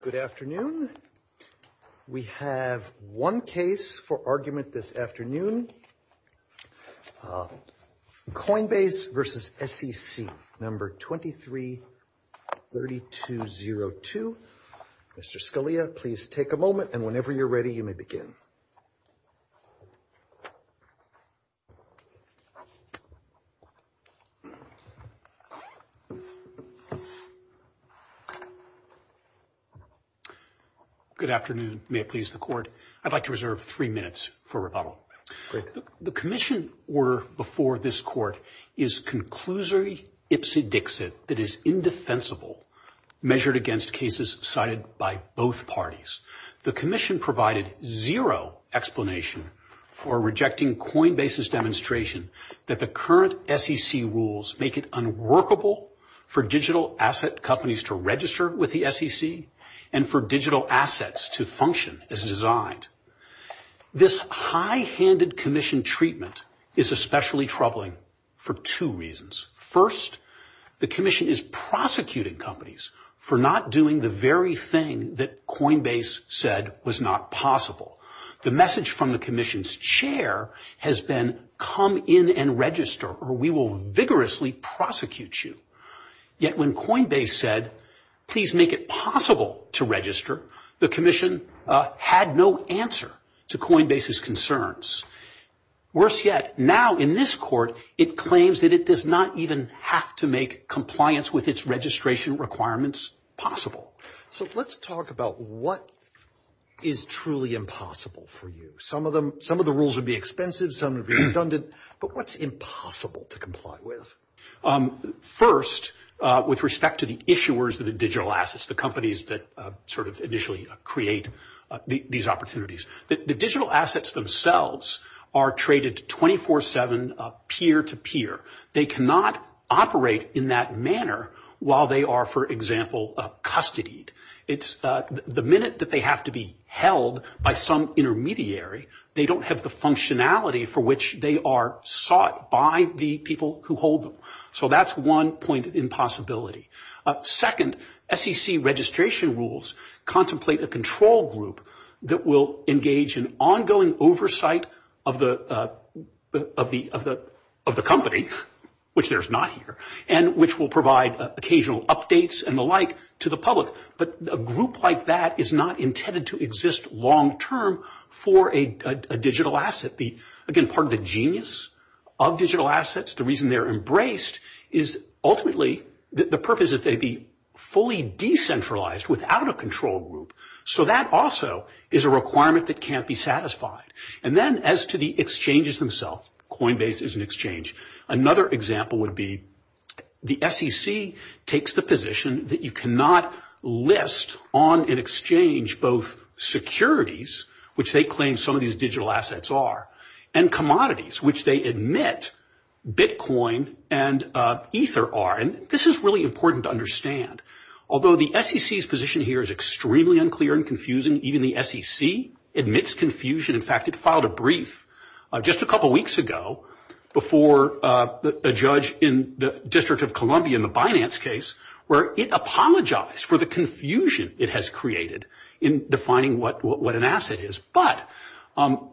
Good afternoon. We have one case for argument this afternoon. Coinbase v. SEC No. 233202. Mr. Scalia, please take a moment, and whenever you're ready, you may begin. Good afternoon. May it please the Court, I'd like to reserve three minutes for rebuttal. The Commission order before this Court is conclusory ipsodixit that is indefensible, measured against cases cited by both parties. The Commission provided zero explanation for rejecting Coinbase's demonstration that the current SEC rules make it unworkable for digital asset companies to register with the SEC and for digital assets to function as designed. This high-handed Commission treatment is especially troubling for two reasons. First, the Commission is prosecuting companies for not doing the very thing that Coinbase said was not possible. The message from the Commission's chair has been, come in and register, or we will vigorously prosecute you. Yet when Coinbase said, please make it possible to register, the Commission had no answer to Coinbase's concerns. Worse yet, now in this Court, it claims that it does not even have to make compliance with its registration requirements possible. So let's talk about what is truly impossible for you. Some of the rules would be expensive, some would be redundant, but what's impossible to comply with? First, with respect to the issuers of the digital assets, the companies that sort of initially create these opportunities, the digital assets themselves are traded 24-7 peer-to-peer. They cannot operate in that manner while they are, for example, custodied. It's the minute that they have to be held by some intermediary, they don't have the functionality for which they are sought by the people who hold them. So that's one point of impossibility. Second, SEC registration rules contemplate a control group that will engage in ongoing oversight of the company, which there's not here, and which will provide occasional updates and the like to the public. But a group like that is not intended to exist long-term for a digital asset. Again, part of the genius of digital assets, the reason they're embraced, is ultimately the purpose that they be fully decentralized without a control group. So that also is a requirement that can't be satisfied. And then as to the exchanges themselves, Coinbase is an exchange. Another example would be the SEC takes the position that you cannot list on an exchange both securities, which they claim some of these digital assets are, and commodities, which they admit Bitcoin and Ether are. And this is really important to understand. Although the SEC's position here is extremely unclear and confusing, even the SEC admits confusion. In fact, it filed a brief just a couple weeks ago before a judge in the District of Columbia in the Binance case where it apologized for the confusion it has created in defining what an asset is. But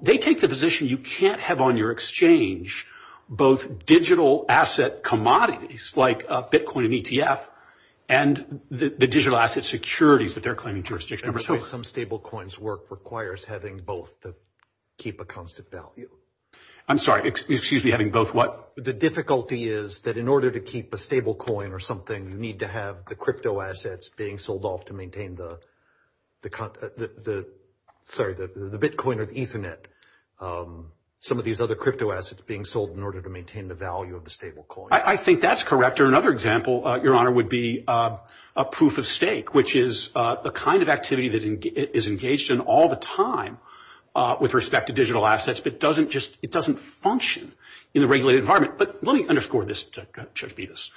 they take the position you can't have on your exchange both digital asset commodities, like Bitcoin and ETF, and the digital asset securities that they're claiming jurisdiction over. Some stable coins work requires having both to keep a constant value. I'm sorry, excuse me, having both what? The difficulty is that in order to keep a stable coin or something, you need to have the crypto assets being sold off to maintain the Bitcoin or Ethernet. Some of these other crypto assets being sold in order to maintain the value of the stable coin. I think that's correct. Or another example, Your Honor, would be a proof of stake, which is the kind of activity that is engaged in all the time with respect to digital assets, but it doesn't function in a regulated environment. But let me underscore this to Judge Bevis.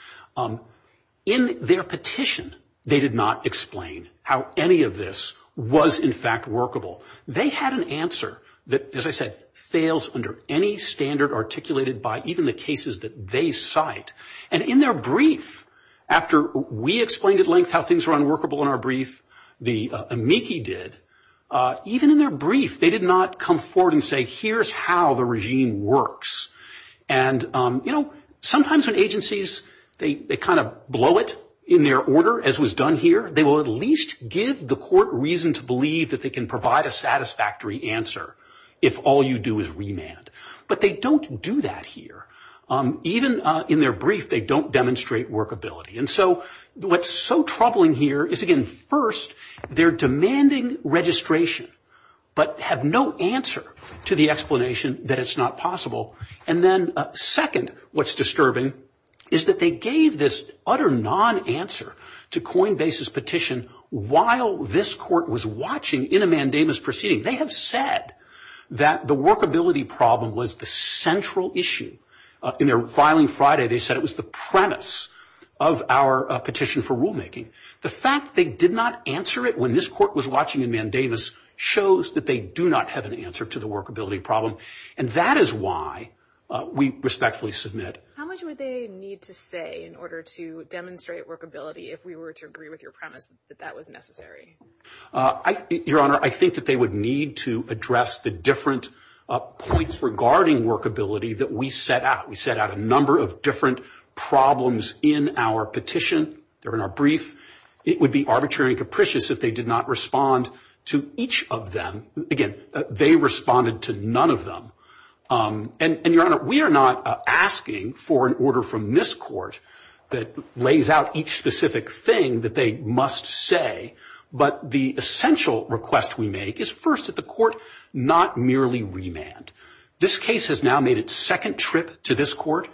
In their petition, they did not explain how any of this was, in fact, workable. They had an answer that, as I said, fails under any standard articulated by even the cases that they cite. And in their brief, after we explained at length how things were unworkable in our brief, the amici did, even in their brief, they did not come forward and say, here's how the regime works. And, you know, sometimes when agencies, they kind of blow it in their order, as was done here, they will at least give the court reason to believe that they can provide a satisfactory answer if all you do is remand. But they don't do that here. Even in their brief, they don't demonstrate workability. And so what's so troubling here is, again, first, they're demanding registration, but have no answer to the explanation that it's not possible. And then, second, what's disturbing is that they gave this utter non-answer to Coinbase's petition while this court was watching in a mandamus proceeding. They have said that the workability problem was the central issue. In their filing Friday, they said it was the premise of our petition for rulemaking. The fact they did not answer it when this court was watching a mandamus shows that they do not have an answer to the workability problem. And that is why we respectfully submit. How much would they need to say in order to demonstrate workability if we were to agree with your premise that that was necessary? Your Honor, I think that they would need to address the different points regarding workability that we set out. We set out a number of different problems in our petition. They're in our brief. It would be arbitrary and capricious if they did not respond to each of them. Again, they responded to none of them. And, Your Honor, we are not asking for an order from this court that lays out each specific thing that they must say, but the essential request we make is first that the court not merely remand. This case has now made its second trip to this court.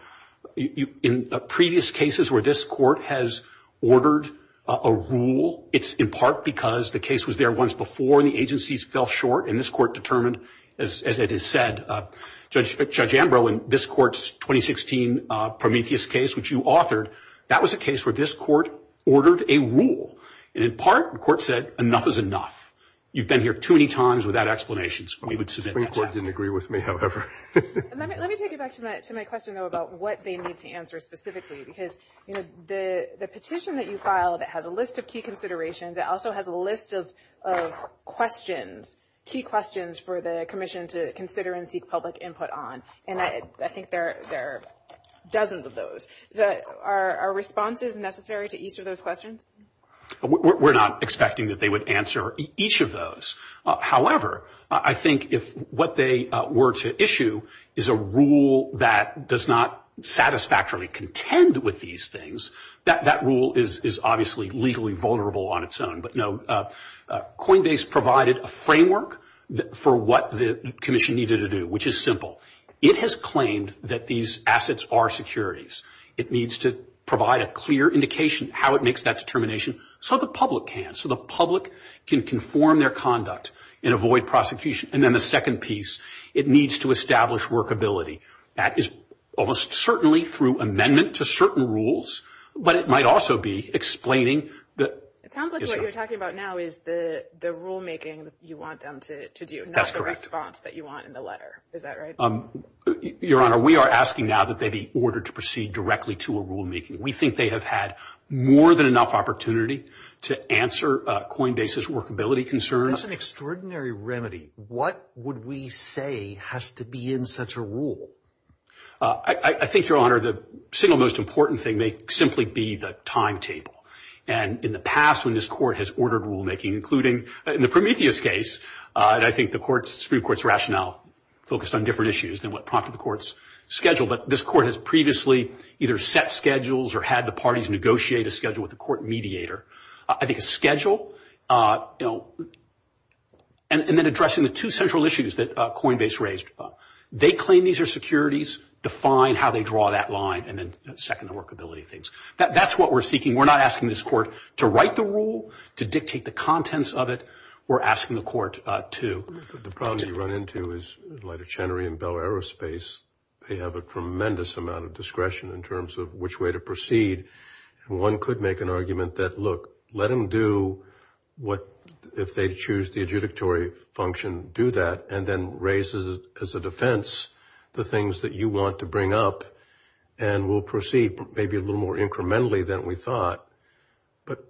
In previous cases where this court has ordered a rule, it's in part because the case was there once before and the agencies fell short and this court determined, as it is said, Judge Ambrose, in this court's 2016 Prometheus case, which you authored, that was a case where this court ordered a rule. And in part, the court said, enough is enough. You've been here too many times without explanations. We would submit that. The Supreme Court didn't agree with me, however. Let me take it back to my question, though, about what they need to answer specifically, because the petition that you filed, it has a list of key considerations. It also has a list of questions, key questions for the commission to consider and seek public input on. And I think there are dozens of those. Are responses necessary to each of those questions? We're not expecting that they would answer each of those. However, I think if what they were to issue is a rule that does not satisfactorily contend with these things, that rule is obviously legally vulnerable on its own. But, no, Coinbase provided a framework for what the commission needed to do, which is simple. It has claimed that these assets are securities. It needs to provide a clear indication how it makes that determination so the public can, so the public can conform their conduct and avoid prosecution. And then the second piece, it needs to establish workability. That is almost certainly through amendment to certain rules, but it might also be explaining the issue. It sounds like what you're talking about now is the rulemaking you want them to do, not the response that you want in the letter. Is that right? Your Honor, we are asking now that they be ordered to proceed directly to a rulemaking. We think they have had more than enough opportunity to answer Coinbase's workability concerns. That's an extraordinary remedy. What would we say has to be in such a rule? I think, Your Honor, the single most important thing may simply be the timetable. And in the past when this court has ordered rulemaking, including in the Prometheus case, and I think the Supreme Court's rationale focused on different issues than what prompted the court's schedule, but this court has previously either set schedules or had the parties negotiate a schedule with the court mediator. I think a schedule, you know, and then addressing the two central issues that Coinbase raised. They claim these are securities, define how they draw that line, and then second the workability things. That's what we're seeking. We're not asking this court to write the rule, to dictate the contents of it. We're asking the court to. The problem you run into is like a Chenery and Bell aerospace. They have a tremendous amount of discretion in terms of which way to proceed. One could make an argument that, look, let them do what, if they choose the adjudicatory function, do that, and then raise as a defense the things that you want to bring up, and we'll proceed maybe a little more incrementally than we thought. But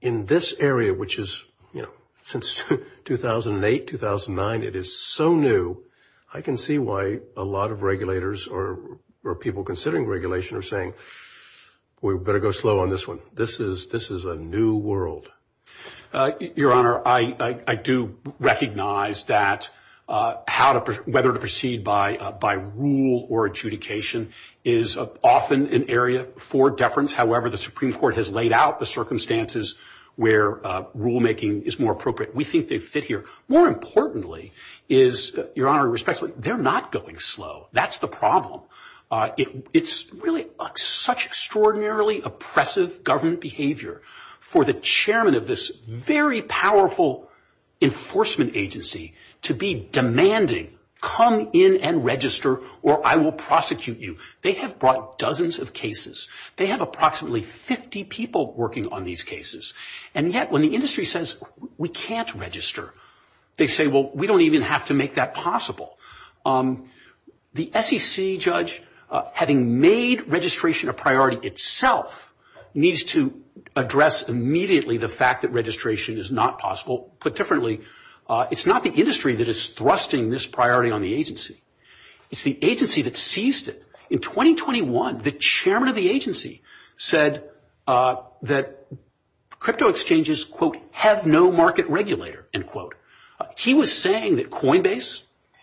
in this area, which is, you know, since 2008, 2009, it is so new. I can see why a lot of regulators or people considering regulation are saying we better go slow on this one. This is a new world. Your Honor, I do recognize that whether to proceed by rule or adjudication is often an area for deference. However, the Supreme Court has laid out the circumstances where rulemaking is more appropriate. We think they fit here. More importantly is, Your Honor, respectfully, they're not going slow. That's the problem. It's really such extraordinarily oppressive government behavior for the chairman of this very powerful enforcement agency to be demanding come in and register or I will prosecute you. They have brought dozens of cases. They have approximately 50 people working on these cases. And yet when the industry says we can't register, they say, well, we don't even have to make that possible. The SEC judge, having made registration a priority itself, needs to address immediately the fact that registration is not possible. Put differently, it's not the industry that is thrusting this priority on the agency. It's the agency that seized it. In 2021, the chairman of the agency said that crypto exchanges, quote, have no market regulator, end quote. He was saying that Coinbase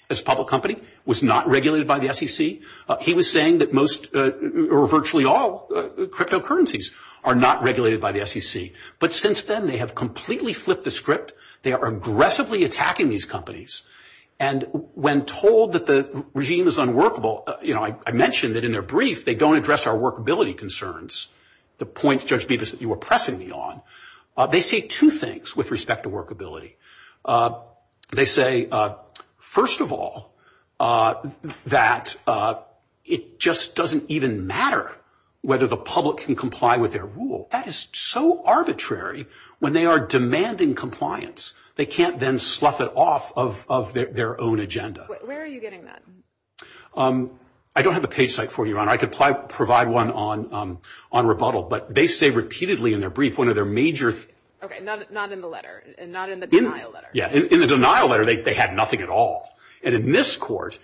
as a public company was not regulated by the SEC. He was saying that most or virtually all cryptocurrencies are not regulated by the SEC. But since then, they have completely flipped the script. They are aggressively attacking these companies. And when told that the regime is unworkable, you know, I mentioned that in their brief, they don't address our workability concerns, the points, Judge Bibas, that you were pressing me on. They say two things with respect to workability. They say, first of all, that it just doesn't even matter whether the public can comply with their rule. That is so arbitrary. When they are demanding compliance, they can't then slough it off of their own agenda. Where are you getting that? I don't have a page site for you, Your Honor. I could provide one on rebuttal. But they say repeatedly in their brief one of their major. Okay, not in the letter, not in the denial letter. Yeah, in the denial letter, they had nothing at all. And in this court,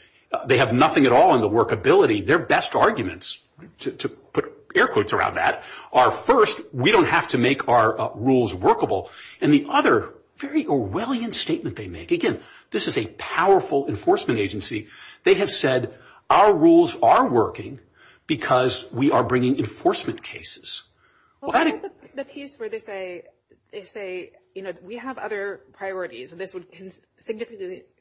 they have nothing at all in the workability. I mean, their best arguments, to put air quotes around that, are first, we don't have to make our rules workable. And the other very Orwellian statement they make, again, this is a powerful enforcement agency, they have said our rules are working because we are bringing enforcement cases. Well, I like the piece where they say, you know, we have other priorities, and this would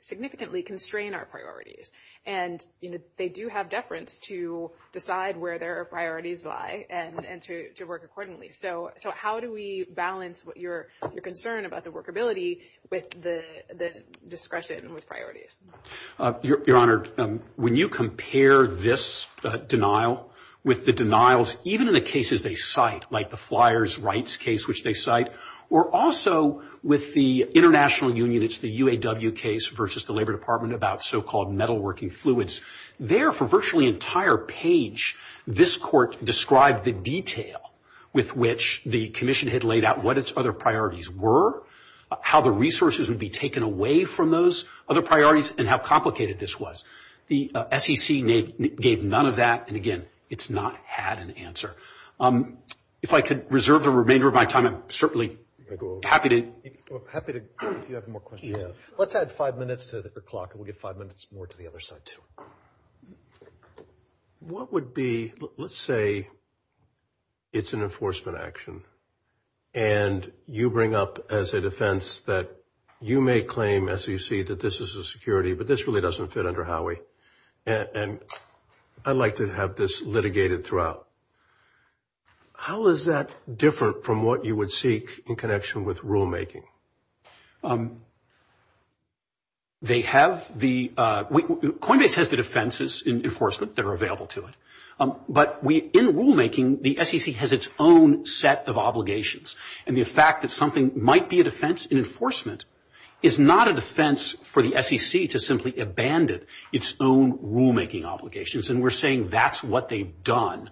significantly constrain our priorities. And, you know, they do have deference to decide where their priorities lie and to work accordingly. So how do we balance your concern about the workability with the discretion with priorities? Your Honor, when you compare this denial with the denials even in the cases they cite, like the flyers rights case which they cite, or also with the international union, it's the UAW case versus the Labor Department about so-called metalworking fluids. There, for virtually entire page, this court described the detail with which the commission had laid out what its other priorities were, how the resources would be taken away from those other priorities, and how complicated this was. The SEC gave none of that. And, again, it's not had an answer. If I could reserve the remainder of my time, I'm certainly happy to. If you have more questions. Let's add five minutes to the clock, and we'll give five minutes more to the other side, too. What would be, let's say it's an enforcement action, and you bring up as a defense that you may claim, as you see, that this is a security, but this really doesn't fit under Howie, and I'd like to have this litigated throughout. How is that different from what you would seek in connection with rulemaking? They have the, Coinbase has the defenses in enforcement that are available to it, but we, in rulemaking, the SEC has its own set of obligations, and the fact that something might be a defense in enforcement is not a defense for the SEC to simply abandon its own rulemaking obligations, and we're saying that's what they've done.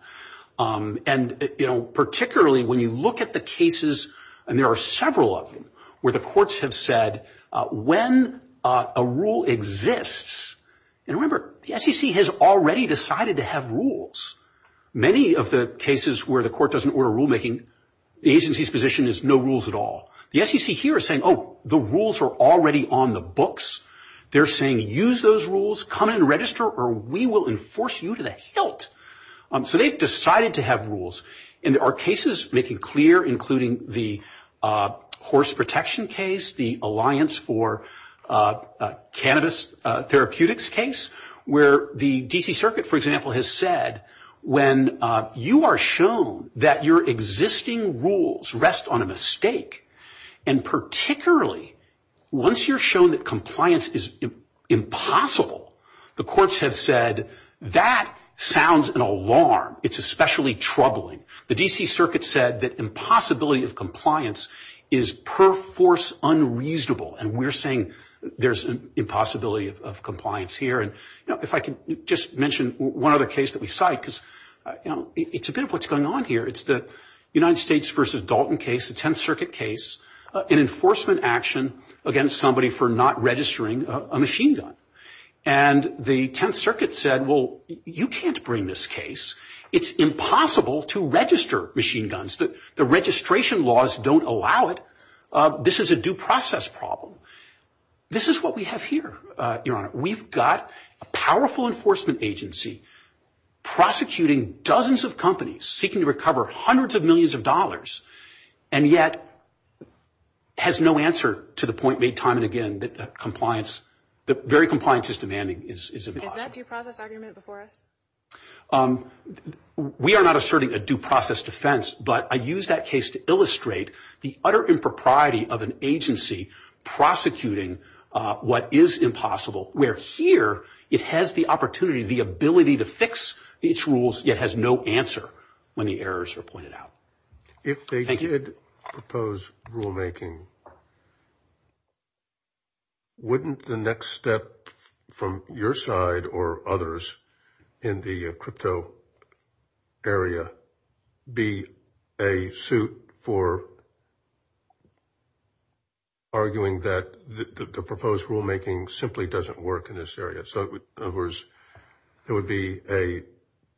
And, you know, particularly when you look at the cases, and there are several of them, where the courts have said when a rule exists, and remember, the SEC has already decided to have rules. Many of the cases where the court doesn't order rulemaking, the agency's position is no rules at all. The SEC here is saying, oh, the rules are already on the books. They're saying use those rules, come and register, or we will enforce you to the hilt. So they've decided to have rules, and there are cases, making clear, including the horse protection case, the Alliance for Cannabis Therapeutics case, where the D.C. Circuit, for example, has said when you are shown that your existing rules rest on a mistake, and particularly once you're shown that compliance is impossible, the courts have said that sounds an alarm. It's especially troubling. The D.C. Circuit said that impossibility of compliance is per force unreasonable, and we're saying there's an impossibility of compliance here. And, you know, if I could just mention one other case that we cite, because, you know, it's a bit of what's going on here. It's the United States v. Dalton case, the Tenth Circuit case, an enforcement action against somebody for not registering a machine gun. And the Tenth Circuit said, well, you can't bring this case. It's impossible to register machine guns. The registration laws don't allow it. This is a due process problem. This is what we have here, Your Honor. We've got a powerful enforcement agency prosecuting dozens of companies, seeking to recover hundreds of millions of dollars, and yet has no answer to the point made time and again that compliance, that very compliance is demanding is impossible. Is that due process argument before us? We are not asserting a due process defense, but I use that case to illustrate the utter impropriety of an agency prosecuting what is impossible. Where here it has the opportunity, the ability to fix its rules, yet has no answer when the errors are pointed out. Thank you. If you did propose rulemaking, wouldn't the next step from your side or others in the crypto area be a suit for arguing that the proposed rulemaking simply doesn't work in this area? So it would be a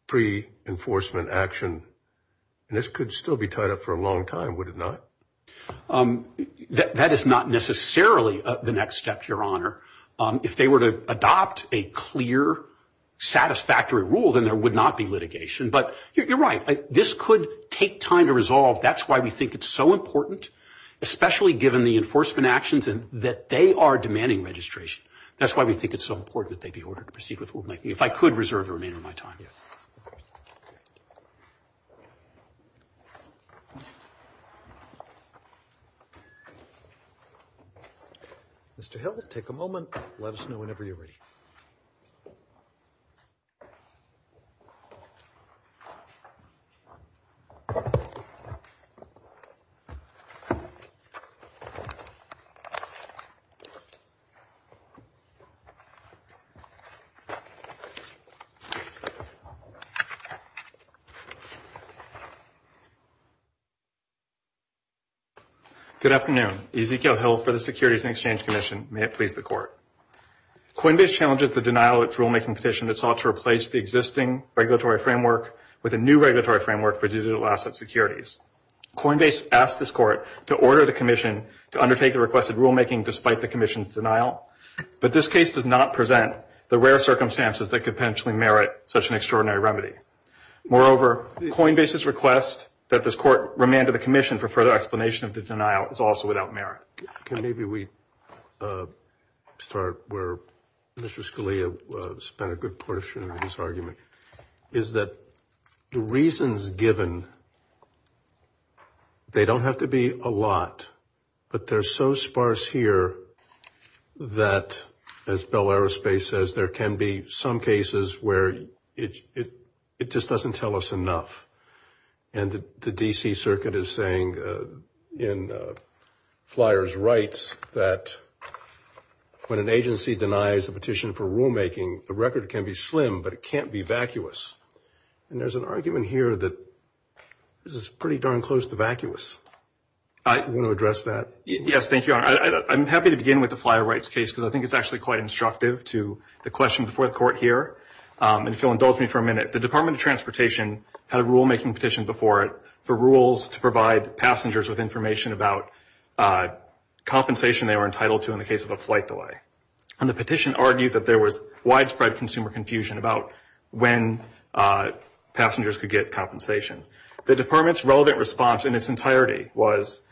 pre-enforcement action. And this could still be tied up for a long time, would it not? That is not necessarily the next step, Your Honor. If they were to adopt a clear, satisfactory rule, then there would not be litigation. But you're right. This could take time to resolve. That's why we think it's so important, especially given the enforcement actions and that they are demanding registration. That's why we think it's so important that they be ordered to proceed with rulemaking. If I could reserve the remainder of my time. Yes. Mr. Hill, take a moment. Let us know whenever you're ready. Good afternoon. Ezekiel Hill for the Securities and Exchange Commission. May it please the Court. Coinbase challenges the denial of its rulemaking petition that sought to replace the existing regulatory framework with a new regulatory framework for digital asset securities. Coinbase asked this Court to order the Commission to undertake the requested rulemaking despite the Commission's denial. But this case does not present the rare circumstances that could potentially merit such an extraordinary remedy. Moreover, Coinbase's request that this Court remand to the Commission for further explanation of the denial is also without merit. Can maybe we start where Mr. Scalia spent a good portion of his argument? Is that the reasons given, they don't have to be a lot. But they're so sparse here that, as Bell Aerospace says, there can be some cases where it just doesn't tell us enough. And the D.C. Circuit is saying in Flyers Rights that when an agency denies a petition for rulemaking, the record can be slim, but it can't be vacuous. And there's an argument here that this is pretty darn close to vacuous. You want to address that? Yes, thank you, Your Honor. I'm happy to begin with the Flyer Rights case because I think it's actually quite instructive to the question before the Court here. And if you'll indulge me for a minute, the Department of Transportation had a rulemaking petition before it for rules to provide passengers with information about compensation they were entitled to in the case of a flight delay. And the petition argued that there was widespread consumer confusion about when passengers could get compensation. The Department's relevant response in its entirety was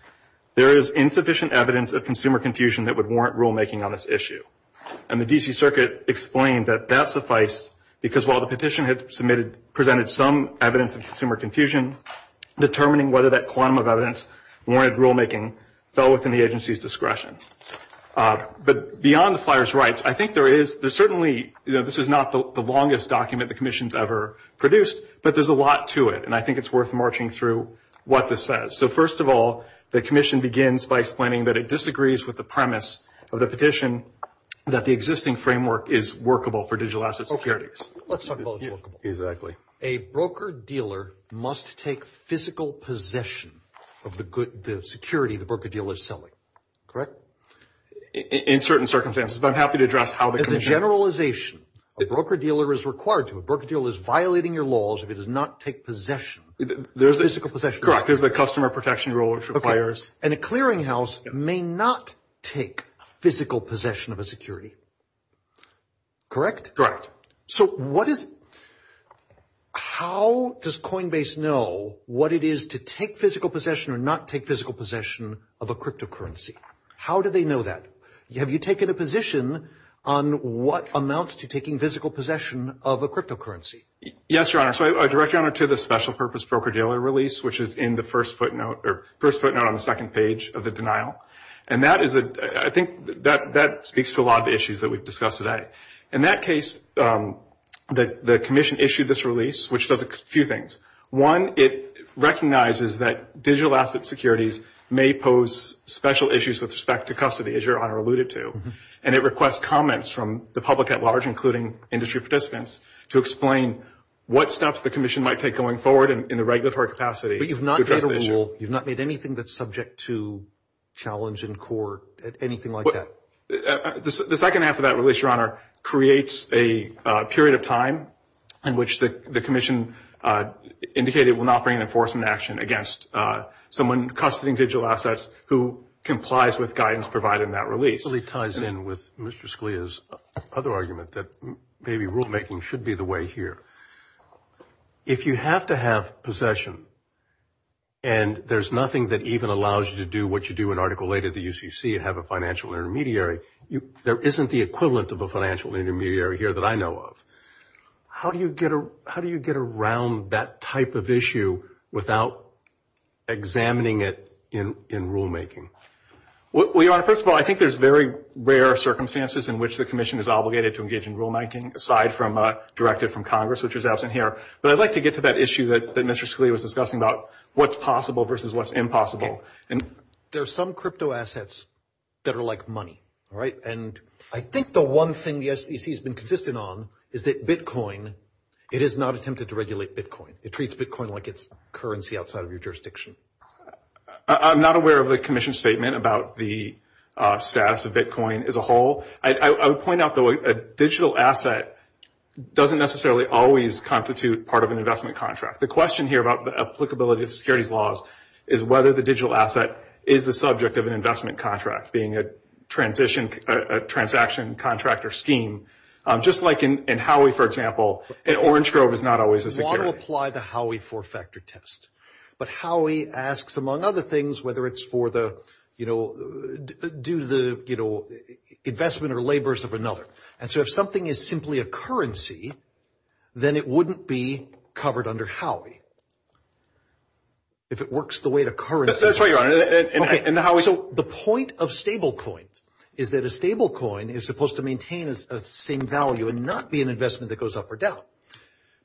there is insufficient evidence of consumer confusion that would warrant rulemaking on this issue. And the D.C. Circuit explained that that sufficed because while the petition had submitted, presented some evidence of consumer confusion, determining whether that quantum of evidence warranted rulemaking fell within the agency's discretion. But beyond the Flyers Rights, I think there is, there's certainly, this is not the longest document the Commission's ever produced, but there's a lot to it. And I think it's worth marching through what this says. So first of all, the Commission begins by explaining that it disagrees with the premise of the petition that the existing framework is workable for digital asset securities. Let's talk about what's workable. Exactly. A broker-dealer must take physical possession of the security the broker-dealer is selling, correct? In certain circumstances, but I'm happy to address how the Commission... A broker-dealer must take physical possession of the security the broker-dealer is selling, correct? And a clearinghouse may not take physical possession of a security, correct? Correct. So what is, how does Coinbase know what it is to take physical possession or not take physical possession of a cryptocurrency? How do they know that? Have you taken a position on what amounts to taking physical possession of a cryptocurrency? Yes, Your Honor. So I direct Your Honor to the special purpose broker-dealer release, which is in the first footnote, or first footnote on the second page of the denial. And that is a, I think that speaks to a lot of the issues that we've discussed today. In that case, the Commission issued this release, which does a few things. One, it recognizes that digital asset securities may pose special issues with respect to custody, as Your Honor pointed out. And it requests comments from the public at large, including industry participants, to explain what steps the Commission might take going forward in the regulatory capacity. But you've not made a rule. You've not made anything that's subject to challenge in court, anything like that. The second half of that release, Your Honor, creates a period of time in which the Commission indicated it will not bring an enforcement action against someone custodying digital assets who complies with guidance provided in that release. That basically ties in with Mr. Scalia's other argument that maybe rulemaking should be the way here. If you have to have possession, and there's nothing that even allows you to do what you do in Article 8 of the UCC and have a financial intermediary, there isn't the equivalent of a financial intermediary here that I know of. How do you get around that type of issue without examining it in rulemaking? Well, Your Honor, first of all, I think there's very rare circumstances in which the Commission is obligated to engage in rulemaking, aside from a directive from Congress, which is absent here. But I'd like to get to that issue that Mr. Scalia was discussing about what's possible versus what's impossible. There are some cryptoassets that are like money, all right? And I think the one thing the SEC has been consistent on is that Bitcoin, it has not attempted to regulate Bitcoin. It treats Bitcoin like it's currency outside of your jurisdiction. I'm not aware of the Commission's statement about the status of Bitcoin as a whole. I would point out, though, a digital asset doesn't necessarily always constitute part of an investment contract. The question here about the applicability of securities laws is whether the digital asset is the subject of an investment contract, being a transaction contractor scheme, just like in Howey, for example, and Orange Grove is not always a security. You want to apply the Howey four-factor test. But Howey asks, among other things, whether it's for the, you know, do the, you know, investment or labors of another. And so if something is simply a currency, then it wouldn't be covered under Howey. If it works the way the currency works. So the point of stablecoins is that a stablecoin is supposed to maintain a same value and not be an investment that goes up or down.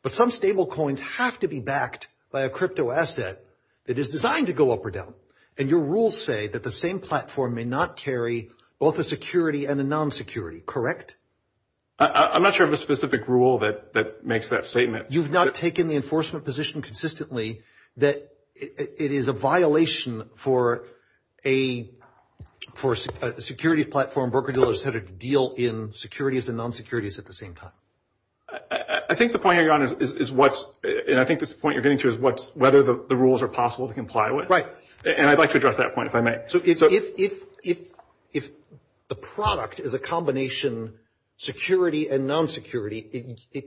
But some stablecoins have to be backed by a cryptoasset that is designed to go up or down. And your rules say that the same platform may not carry both a security and a non-security, correct? I'm not sure of a specific rule that makes that statement. You've not taken the enforcement position consistently that it is a violation for a security platform, and broker-dealers had to deal in securities and non-securities at the same time. I think the point you're on is what's, and I think this is the point you're getting to, is what's, whether the rules are possible to comply with. Right. And I'd like to address that point, if I may. So if the product is a combination security and non-security, you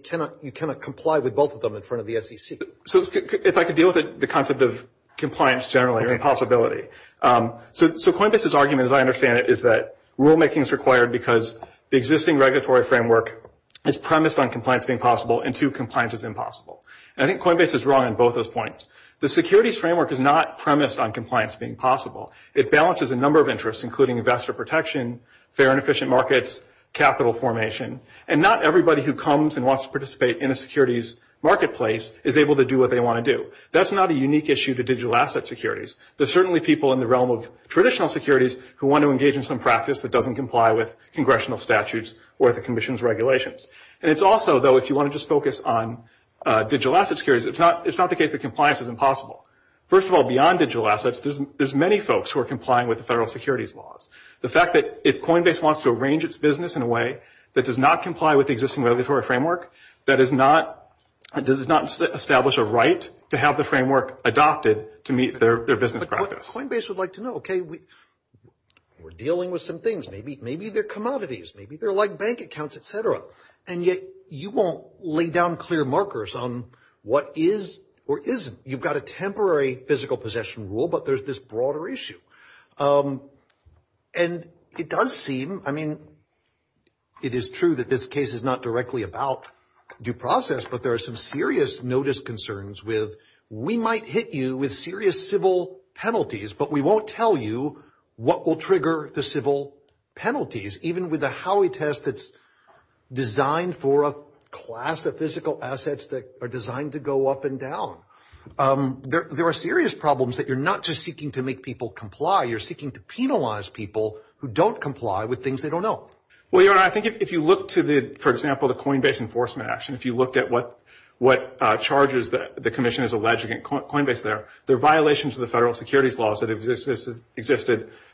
cannot comply with both of them in front of the SEC. So if I could deal with the concept of compliance generally or impossibility. So Coinbase's argument, as I understand it, is that rulemaking is required because the existing regulatory framework is premised on compliance being possible and, two, compliance is impossible. And I think Coinbase is wrong on both those points. The securities framework is not premised on compliance being possible. It balances a number of interests, including investor protection, fair and efficient markets, capital formation. And not everybody who comes and wants to participate in a securities marketplace is able to do what they want to do. That's not a unique issue to digital asset securities. There are certainly people in the realm of traditional securities who want to engage in some practice that doesn't comply with congressional statutes or the Commission's regulations. And it's also, though, if you want to just focus on digital asset securities, it's not the case that compliance is impossible. First of all, beyond digital assets, there's many folks who are complying with the federal securities laws. The fact that if Coinbase wants to arrange its business in a way that does not comply with the existing regulatory framework, that does not establish a right to have the framework adopted to meet their business practice. But what Coinbase would like to know, okay, we're dealing with some things. Maybe they're commodities. Maybe they're like bank accounts, et cetera. And yet you won't lay down clear markers on what is or isn't. You've got a temporary physical possession rule, but there's this broader issue. And it does seem, I mean, it is true that this case is not directly about due process, but there are some serious notice concerns with we might hit you with serious civil penalties, but we won't tell you what will trigger the civil penalties, even with a Howey test that's designed for a class of physical assets that are designed to go up and down. There are serious problems that you're not just seeking to make people comply. You're seeking to penalize people who don't comply with things they don't know. Well, Your Honor, I think if you look to the, for example, the Coinbase enforcement action, if you looked at what charges the commission has alleged against Coinbase there, they're violations of the federal securities laws that have existed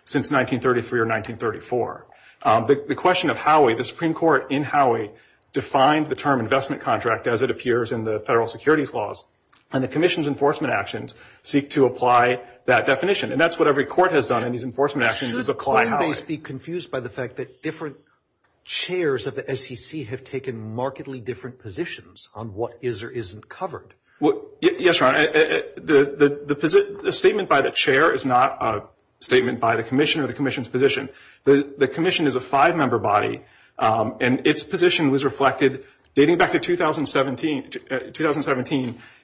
since 1933 or 1934. The question of Howey, the Supreme Court in Howey defined the term investment contract as it appears in the federal securities laws. And the commission's enforcement actions seek to apply that definition. And that's what every court has done in these enforcement actions is apply Howey. Should Coinbase be confused by the fact that different chairs of the SEC have taken markedly different positions on what is or isn't covered? Yes, Your Honor. The statement by the chair is not a statement by the commission or the commission's position. The commission is a five-member body, and its position was reflected dating back to 2017.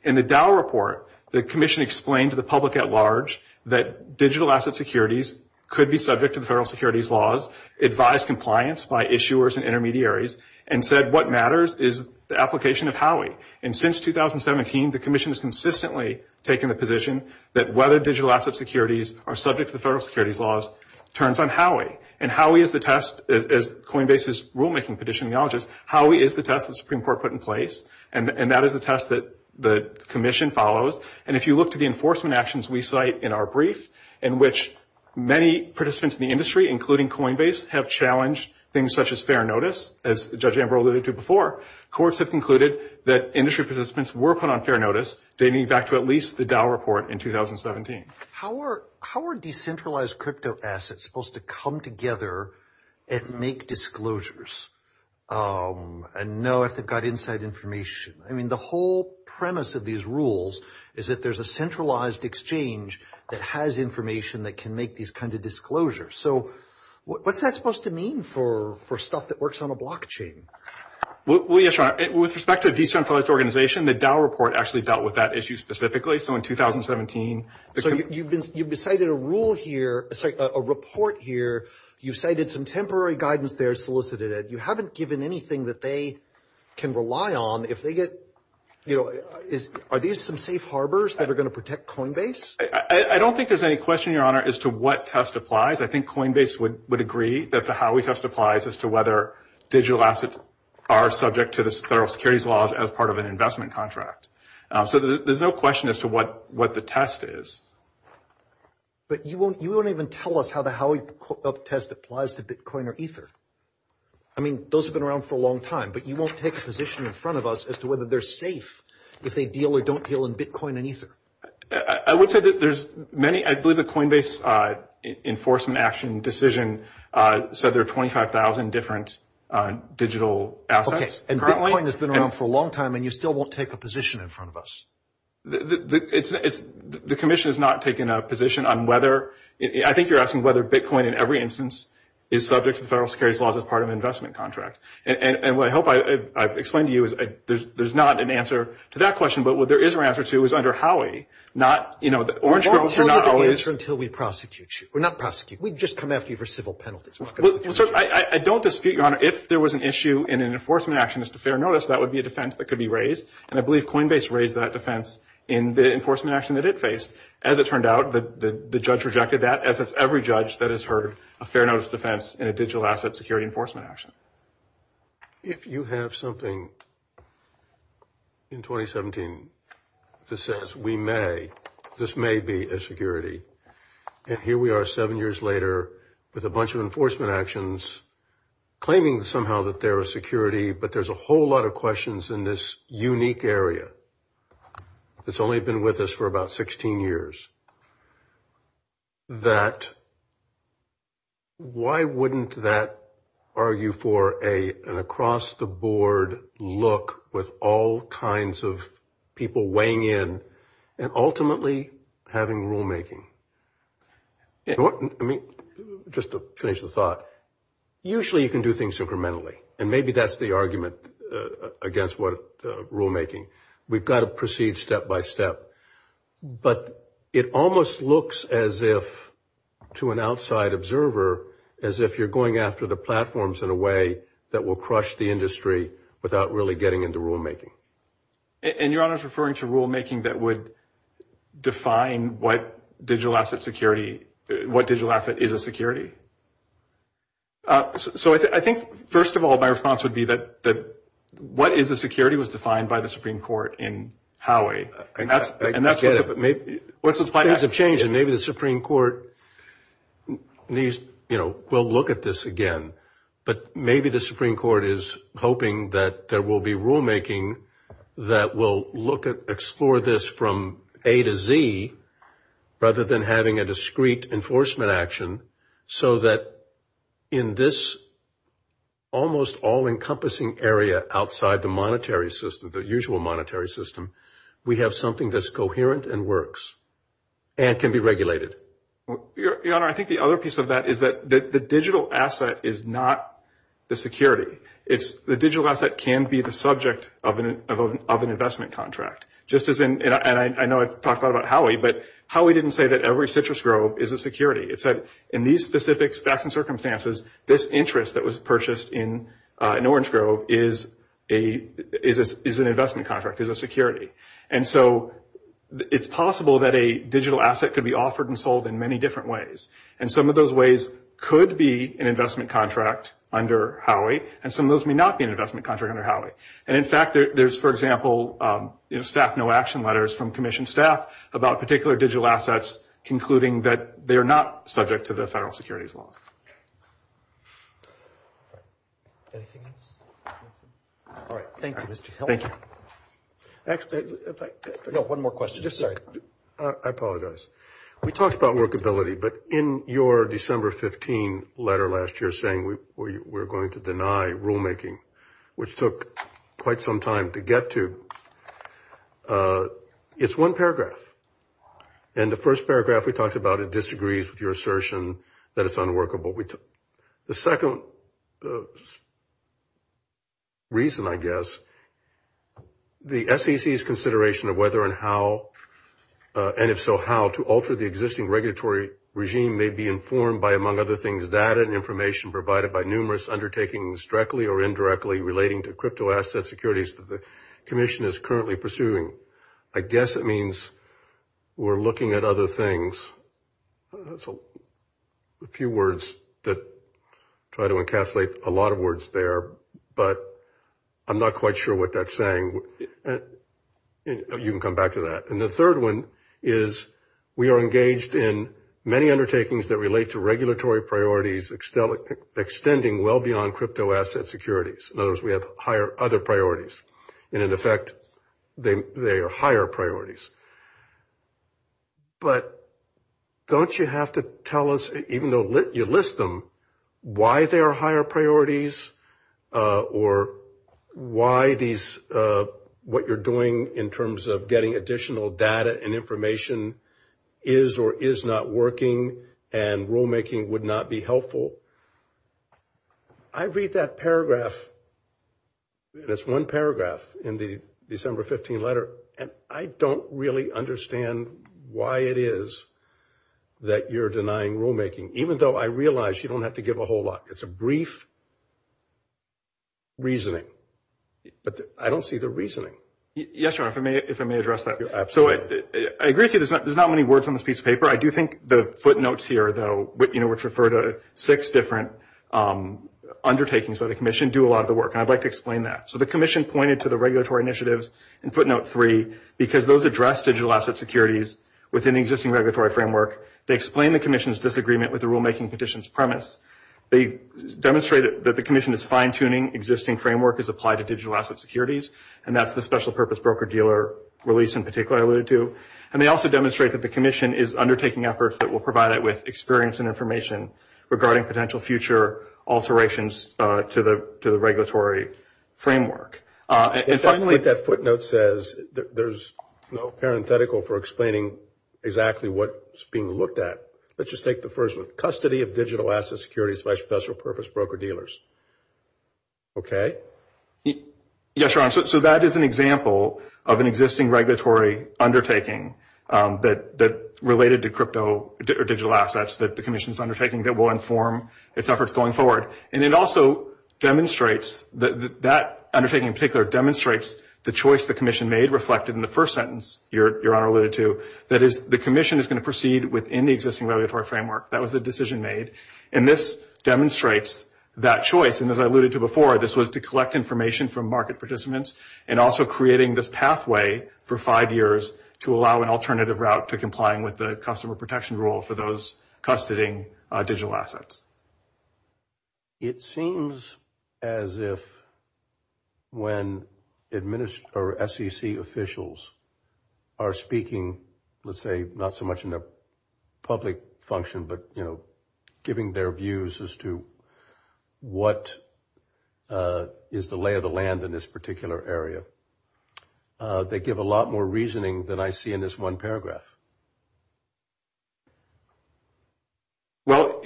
In the Dow report, the commission explained to the public at large that digital asset securities could be subject to the federal securities laws, advised compliance by issuers and intermediaries, and said what matters is the application of Howey. And since 2017, the commission has consistently taken the position that whether digital asset securities are subject to the federal securities laws turns on Howey. And Howey is the test, as Coinbase's rulemaking petition acknowledges, Howey is the test the Supreme Court put in place, and that is the test that the commission follows. And if you look to the enforcement actions we cite in our brief in which many participants in the industry, including Coinbase, have challenged things such as fair notice, as Judge Ambrose alluded to before, courts have concluded that industry participants were put on fair notice dating back to at least the Dow report in 2017. How are decentralized crypto assets supposed to come together and make disclosures and know if they've got inside information? I mean, the whole premise of these rules is that there's a centralized exchange that has information that can make these kinds of disclosures. So what's that supposed to mean for stuff that works on a blockchain? Well, yes, Sean. With respect to a decentralized organization, the Dow report actually dealt with that issue specifically. So in 2017. So you've cited a rule here, sorry, a report here. You cited some temporary guidance there, solicited it. You haven't given anything that they can rely on. If they get, you know, are these some safe harbors that are going to protect Coinbase? I don't think there's any question, Your Honor, as to what test applies. I think Coinbase would agree that the Howey test applies as to whether digital assets are subject to the federal securities laws as part of an investment contract. So there's no question as to what the test is. But you won't even tell us how the Howey test applies to Bitcoin or Ether. I mean, those have been around for a long time, but you won't take a position in front of us as to whether they're safe if they deal or don't deal in Bitcoin and Ether. I would say that there's many. I believe the Coinbase enforcement action decision said there are 25,000 different digital assets. And Bitcoin has been around for a long time, and you still won't take a position in front of us. The commission has not taken a position on whether – I think you're asking whether Bitcoin in every instance is subject to the federal securities laws as part of an investment contract. And what I hope I've explained to you is there's not an answer to that question, but what there is an answer to is under Howey. Not, you know, the Orange Girls are not always – We won't tell you the answer until we prosecute you. We're not prosecuting. We've just come after you for civil penalties. Well, sir, I don't dispute your honor. If there was an issue in an enforcement action as to fair notice, that would be a defense that could be raised. And I believe Coinbase raised that defense in the enforcement action that it faced. As it turned out, the judge rejected that, as has every judge that has heard a fair notice defense in a digital asset security enforcement action. If you have something in 2017 that says we may – this may be a security, and here we are seven years later with a bunch of enforcement actions claiming somehow that they're a security, but there's a whole lot of questions in this unique area that's only been with us for about 16 years, that why wouldn't that argue for an across-the-board look with all kinds of people weighing in and ultimately having rulemaking? I mean, just to finish the thought, usually you can do things incrementally, and maybe that's the argument against rulemaking. We've got to proceed step by step. But it almost looks as if, to an outside observer, as if you're going after the platforms in a way that will crush the industry without really getting into rulemaking. And Your Honor is referring to rulemaking that would define what digital asset security – what digital asset is a security? So I think, first of all, my response would be that what is a security was defined by the Supreme Court in Howey. And that's what's – I get it. Things have changed, and maybe the Supreme Court needs – you know, we'll look at this again, but maybe the Supreme Court is hoping that there will be rulemaking that will look at – explore this from A to Z, rather than having a discrete enforcement action, so that in this almost all-encompassing area outside the monetary system, the usual monetary system, we have something that's coherent and works and can be regulated. Your Honor, I think the other piece of that is that the digital asset is not the security. It's – the digital asset can be the subject of an investment contract. Just as in – and I know I've talked a lot about Howey, but Howey didn't say that every citrus grove is a security. It said in these specific facts and circumstances, this interest that was purchased in Orange Grove is an investment contract, is a security. And so it's possible that a digital asset could be offered and sold in many different ways. And some of those ways could be an investment contract under Howey, and some of those may not be an investment contract under Howey. And, in fact, there's, for example, staff no-action letters from Commission staff about particular digital assets, concluding that they are not subject to the federal securities laws. Anything else? All right. Thank you, Mr. Hill. Thank you. Actually, if I – No, one more question. Sorry. I apologize. We talked about workability, but in your December 15 letter last year saying we're going to deny rulemaking, which took quite some time to get to, it's one paragraph. And the first paragraph we talked about it disagrees with your assertion that it's unworkable. The second reason, I guess, the SEC's consideration of whether and how, and if so how, to alter the existing regulatory regime may be informed by, among other things, data and information provided by numerous undertakings directly or indirectly relating to cryptoasset securities that the Commission is currently pursuing. I guess it means we're looking at other things. That's a few words that try to encapsulate a lot of words there, but I'm not quite sure what that's saying. You can come back to that. And the third one is we are engaged in many undertakings that relate to regulatory priorities extending well beyond cryptoasset securities. In other words, we have other priorities. And, in effect, they are higher priorities. But don't you have to tell us, even though you list them, why they are higher priorities or why these, what you're doing in terms of getting additional data and information is or is not working and rulemaking would not be helpful? I read that paragraph, and it's one paragraph in the December 15 letter, and I don't really understand why it is that you're denying rulemaking, even though I realize you don't have to give a whole lot. It's a brief reasoning. But I don't see the reasoning. Yes, Your Honor, if I may address that. Absolutely. I agree with you. There's not many words on this piece of paper. I do think the footnotes here, though, which refer to six different undertakings by the Commission, do a lot of the work, and I'd like to explain that. So the Commission pointed to the regulatory initiatives in footnote three because those address digital asset securities within the existing regulatory framework. They explain the Commission's disagreement with the rulemaking petition's premise. They demonstrate that the Commission is fine-tuning existing framework as applied to digital asset securities, and that's the special purpose broker-dealer release in particular I alluded to. And they also demonstrate that the Commission is undertaking efforts that will provide it with experience and information regarding potential future alterations to the regulatory framework. And finally, what that footnote says, there's no parenthetical for explaining exactly what's being looked at. Let's just take the first one. Custody of digital asset securities by special purpose broker-dealers. Okay? Yes, Your Honor. So that is an example of an existing regulatory undertaking that related to crypto or digital assets that the Commission is undertaking that will inform its efforts going forward. And it also demonstrates that undertaking in particular demonstrates the choice the Commission made reflected in the first sentence Your Honor alluded to, that is the Commission is going to proceed within the existing regulatory framework. That was the decision made. And this demonstrates that choice, and as I alluded to before, this was to collect information from market participants and also creating this pathway for five years to allow an alternative route to complying with the customer protection rule for those custodying digital assets. It seems as if when SEC officials are speaking, let's say not so much in a public function, but giving their views as to what is the lay of the land in this particular area, they give a lot more reasoning than I see in this one paragraph. Well,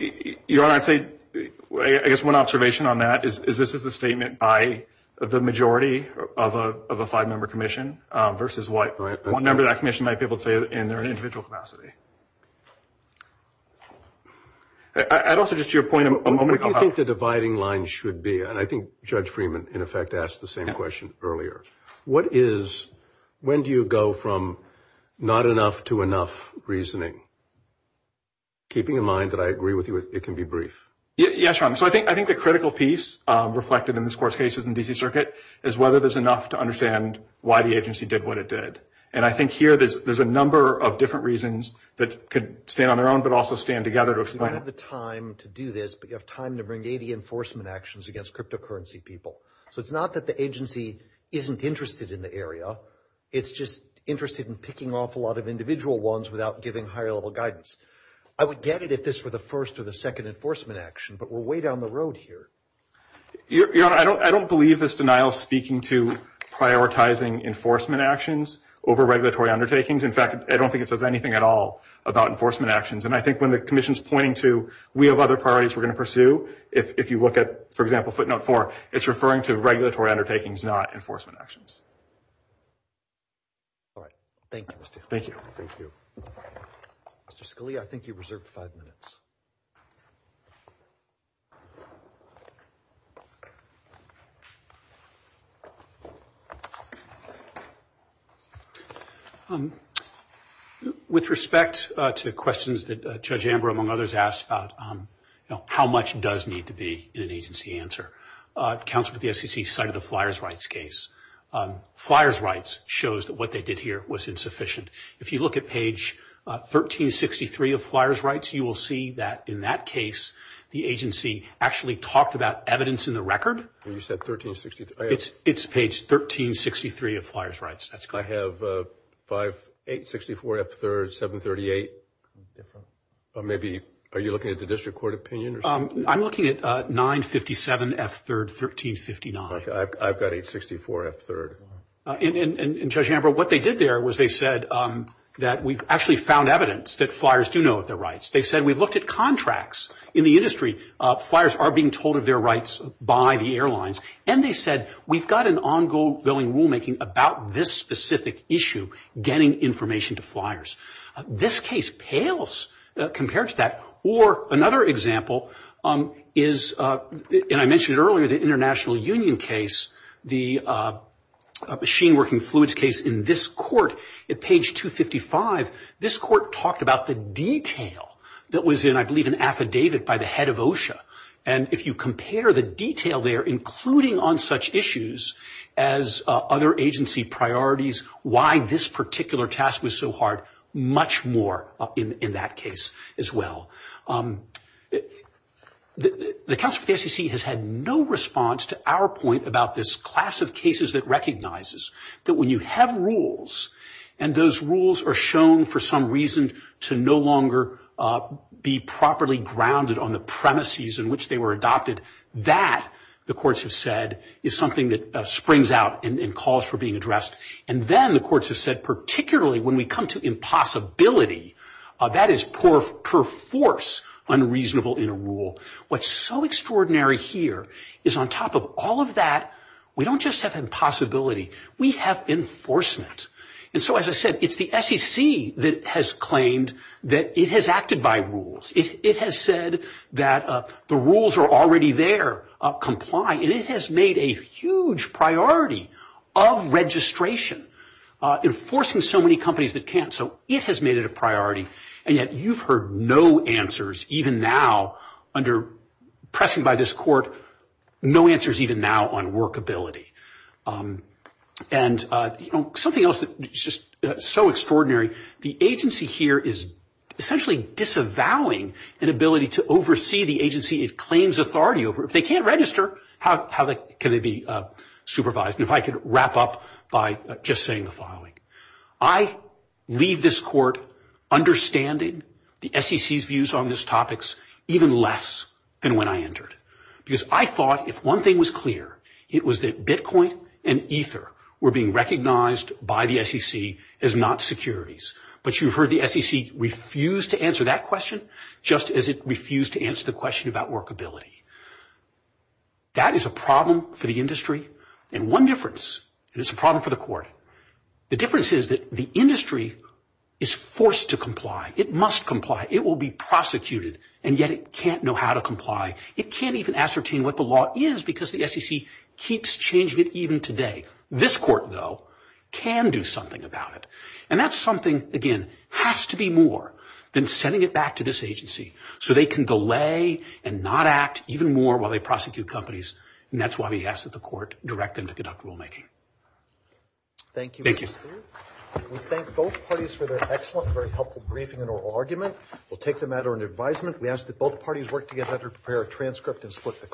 Your Honor, I guess one observation on that is this is the statement by the majority of a five-member Commission versus what one member of that Commission might be able to say in their individual capacity. I'd also just to your point a moment ago. What do you think the dividing line should be? And I think Judge Freeman, in effect, asked the same question earlier. What is, when do you go from not enough to enough reasoning? Keeping in mind that I agree with you, it can be brief. Yes, Your Honor. So I think the critical piece reflected in this court's case in the D.C. Circuit is whether there's enough to understand why the agency did what it did. And I think here there's a number of different reasons that could stand on their own but also stand together to explain. You don't have the time to do this, but you have time to bring 80 enforcement actions against cryptocurrency people. So it's not that the agency isn't interested in the area. It's just interested in picking off a lot of individual ones without giving higher-level guidance. I would get it if this were the first or the second enforcement action, but we're way down the road here. Your Honor, I don't believe this denial is speaking to prioritizing enforcement actions over regulatory undertakings. In fact, I don't think it says anything at all about enforcement actions. And I think when the commission's pointing to we have other priorities we're going to pursue, if you look at, for example, footnote 4, it's referring to regulatory undertakings, not enforcement actions. All right. Thank you, Mr. Hill. Thank you. Thank you. Mr. Scalia, I think you reserved five minutes. With respect to questions that Judge Amber, among others, asked about how much does need to be in an agency answer, counsel at the SEC cited the Flyers' Rights case. Flyers' Rights shows that what they did here was insufficient. If you look at page 1363 of Flyers' Rights, you will see that, in that case, the agency actually talked about evidence in the record. You said 1363. It's page 1363 of Flyers' Rights. That's correct. I have 564 F-3rd, 738. Maybe are you looking at the district court opinion? I'm looking at 957 F-3rd, 1359. I've got 864 F-3rd. And, Judge Amber, what they did there was they said that we've actually found evidence that Flyers do know of their rights. They said we've looked at contracts in the industry. Flyers are being told of their rights by the airlines. And they said we've got an ongoing rulemaking about this specific issue, getting information to Flyers. This case pales compared to that. Or another example is, and I mentioned it earlier, the International Union case, the machine working fluids case in this court. At page 255, this court talked about the detail that was in, I believe, an affidavit by the head of OSHA. And if you compare the detail there, including on such issues as other agency priorities, why this particular task was so hard, much more in that case as well. The Council of the FCC has had no response to our point about this class of cases that recognizes that when you have rules, and those rules are shown for some reason to no longer be properly grounded on the premises in which they were adopted, that, the courts have said, is something that springs out and calls for being addressed. And then the courts have said, particularly when we come to impossibility, that is perforce unreasonable in a rule. What's so extraordinary here is on top of all of that, we don't just have impossibility, we have enforcement. And so, as I said, it's the SEC that has claimed that it has acted by rules. It has said that the rules are already there, comply, and it has made a huge priority of registration, enforcing so many companies that can't. So it has made it a priority, and yet you've heard no answers, even now, under pressing by this court, no answers even now on workability. And something else that is just so extraordinary, the agency here is essentially disavowing an ability to oversee the agency it claims authority over. If they can't register, how can they be supervised? And if I could wrap up by just saying the following. I leave this court understanding the SEC's views on these topics even less than when I entered. Because I thought if one thing was clear, it was that Bitcoin and Ether were being recognized by the SEC as not securities. But you've heard the SEC refuse to answer that question, just as it refused to answer the question about workability. That is a problem for the industry. And one difference, and it's a problem for the court, the difference is that the industry is forced to comply. It must comply. It will be prosecuted. And yet it can't know how to comply. It can't even ascertain what the law is because the SEC keeps changing it even today. This court, though, can do something about it. And that's something, again, has to be more than sending it back to this agency so they can delay and not act even more while they prosecute companies. And that's why we ask that the court direct them to conduct rulemaking. Thank you. We thank both parties for their excellent and very helpful briefing and oral argument. We'll take the matter under advisement. We ask that both parties work together to prepare a transcript and split the cost.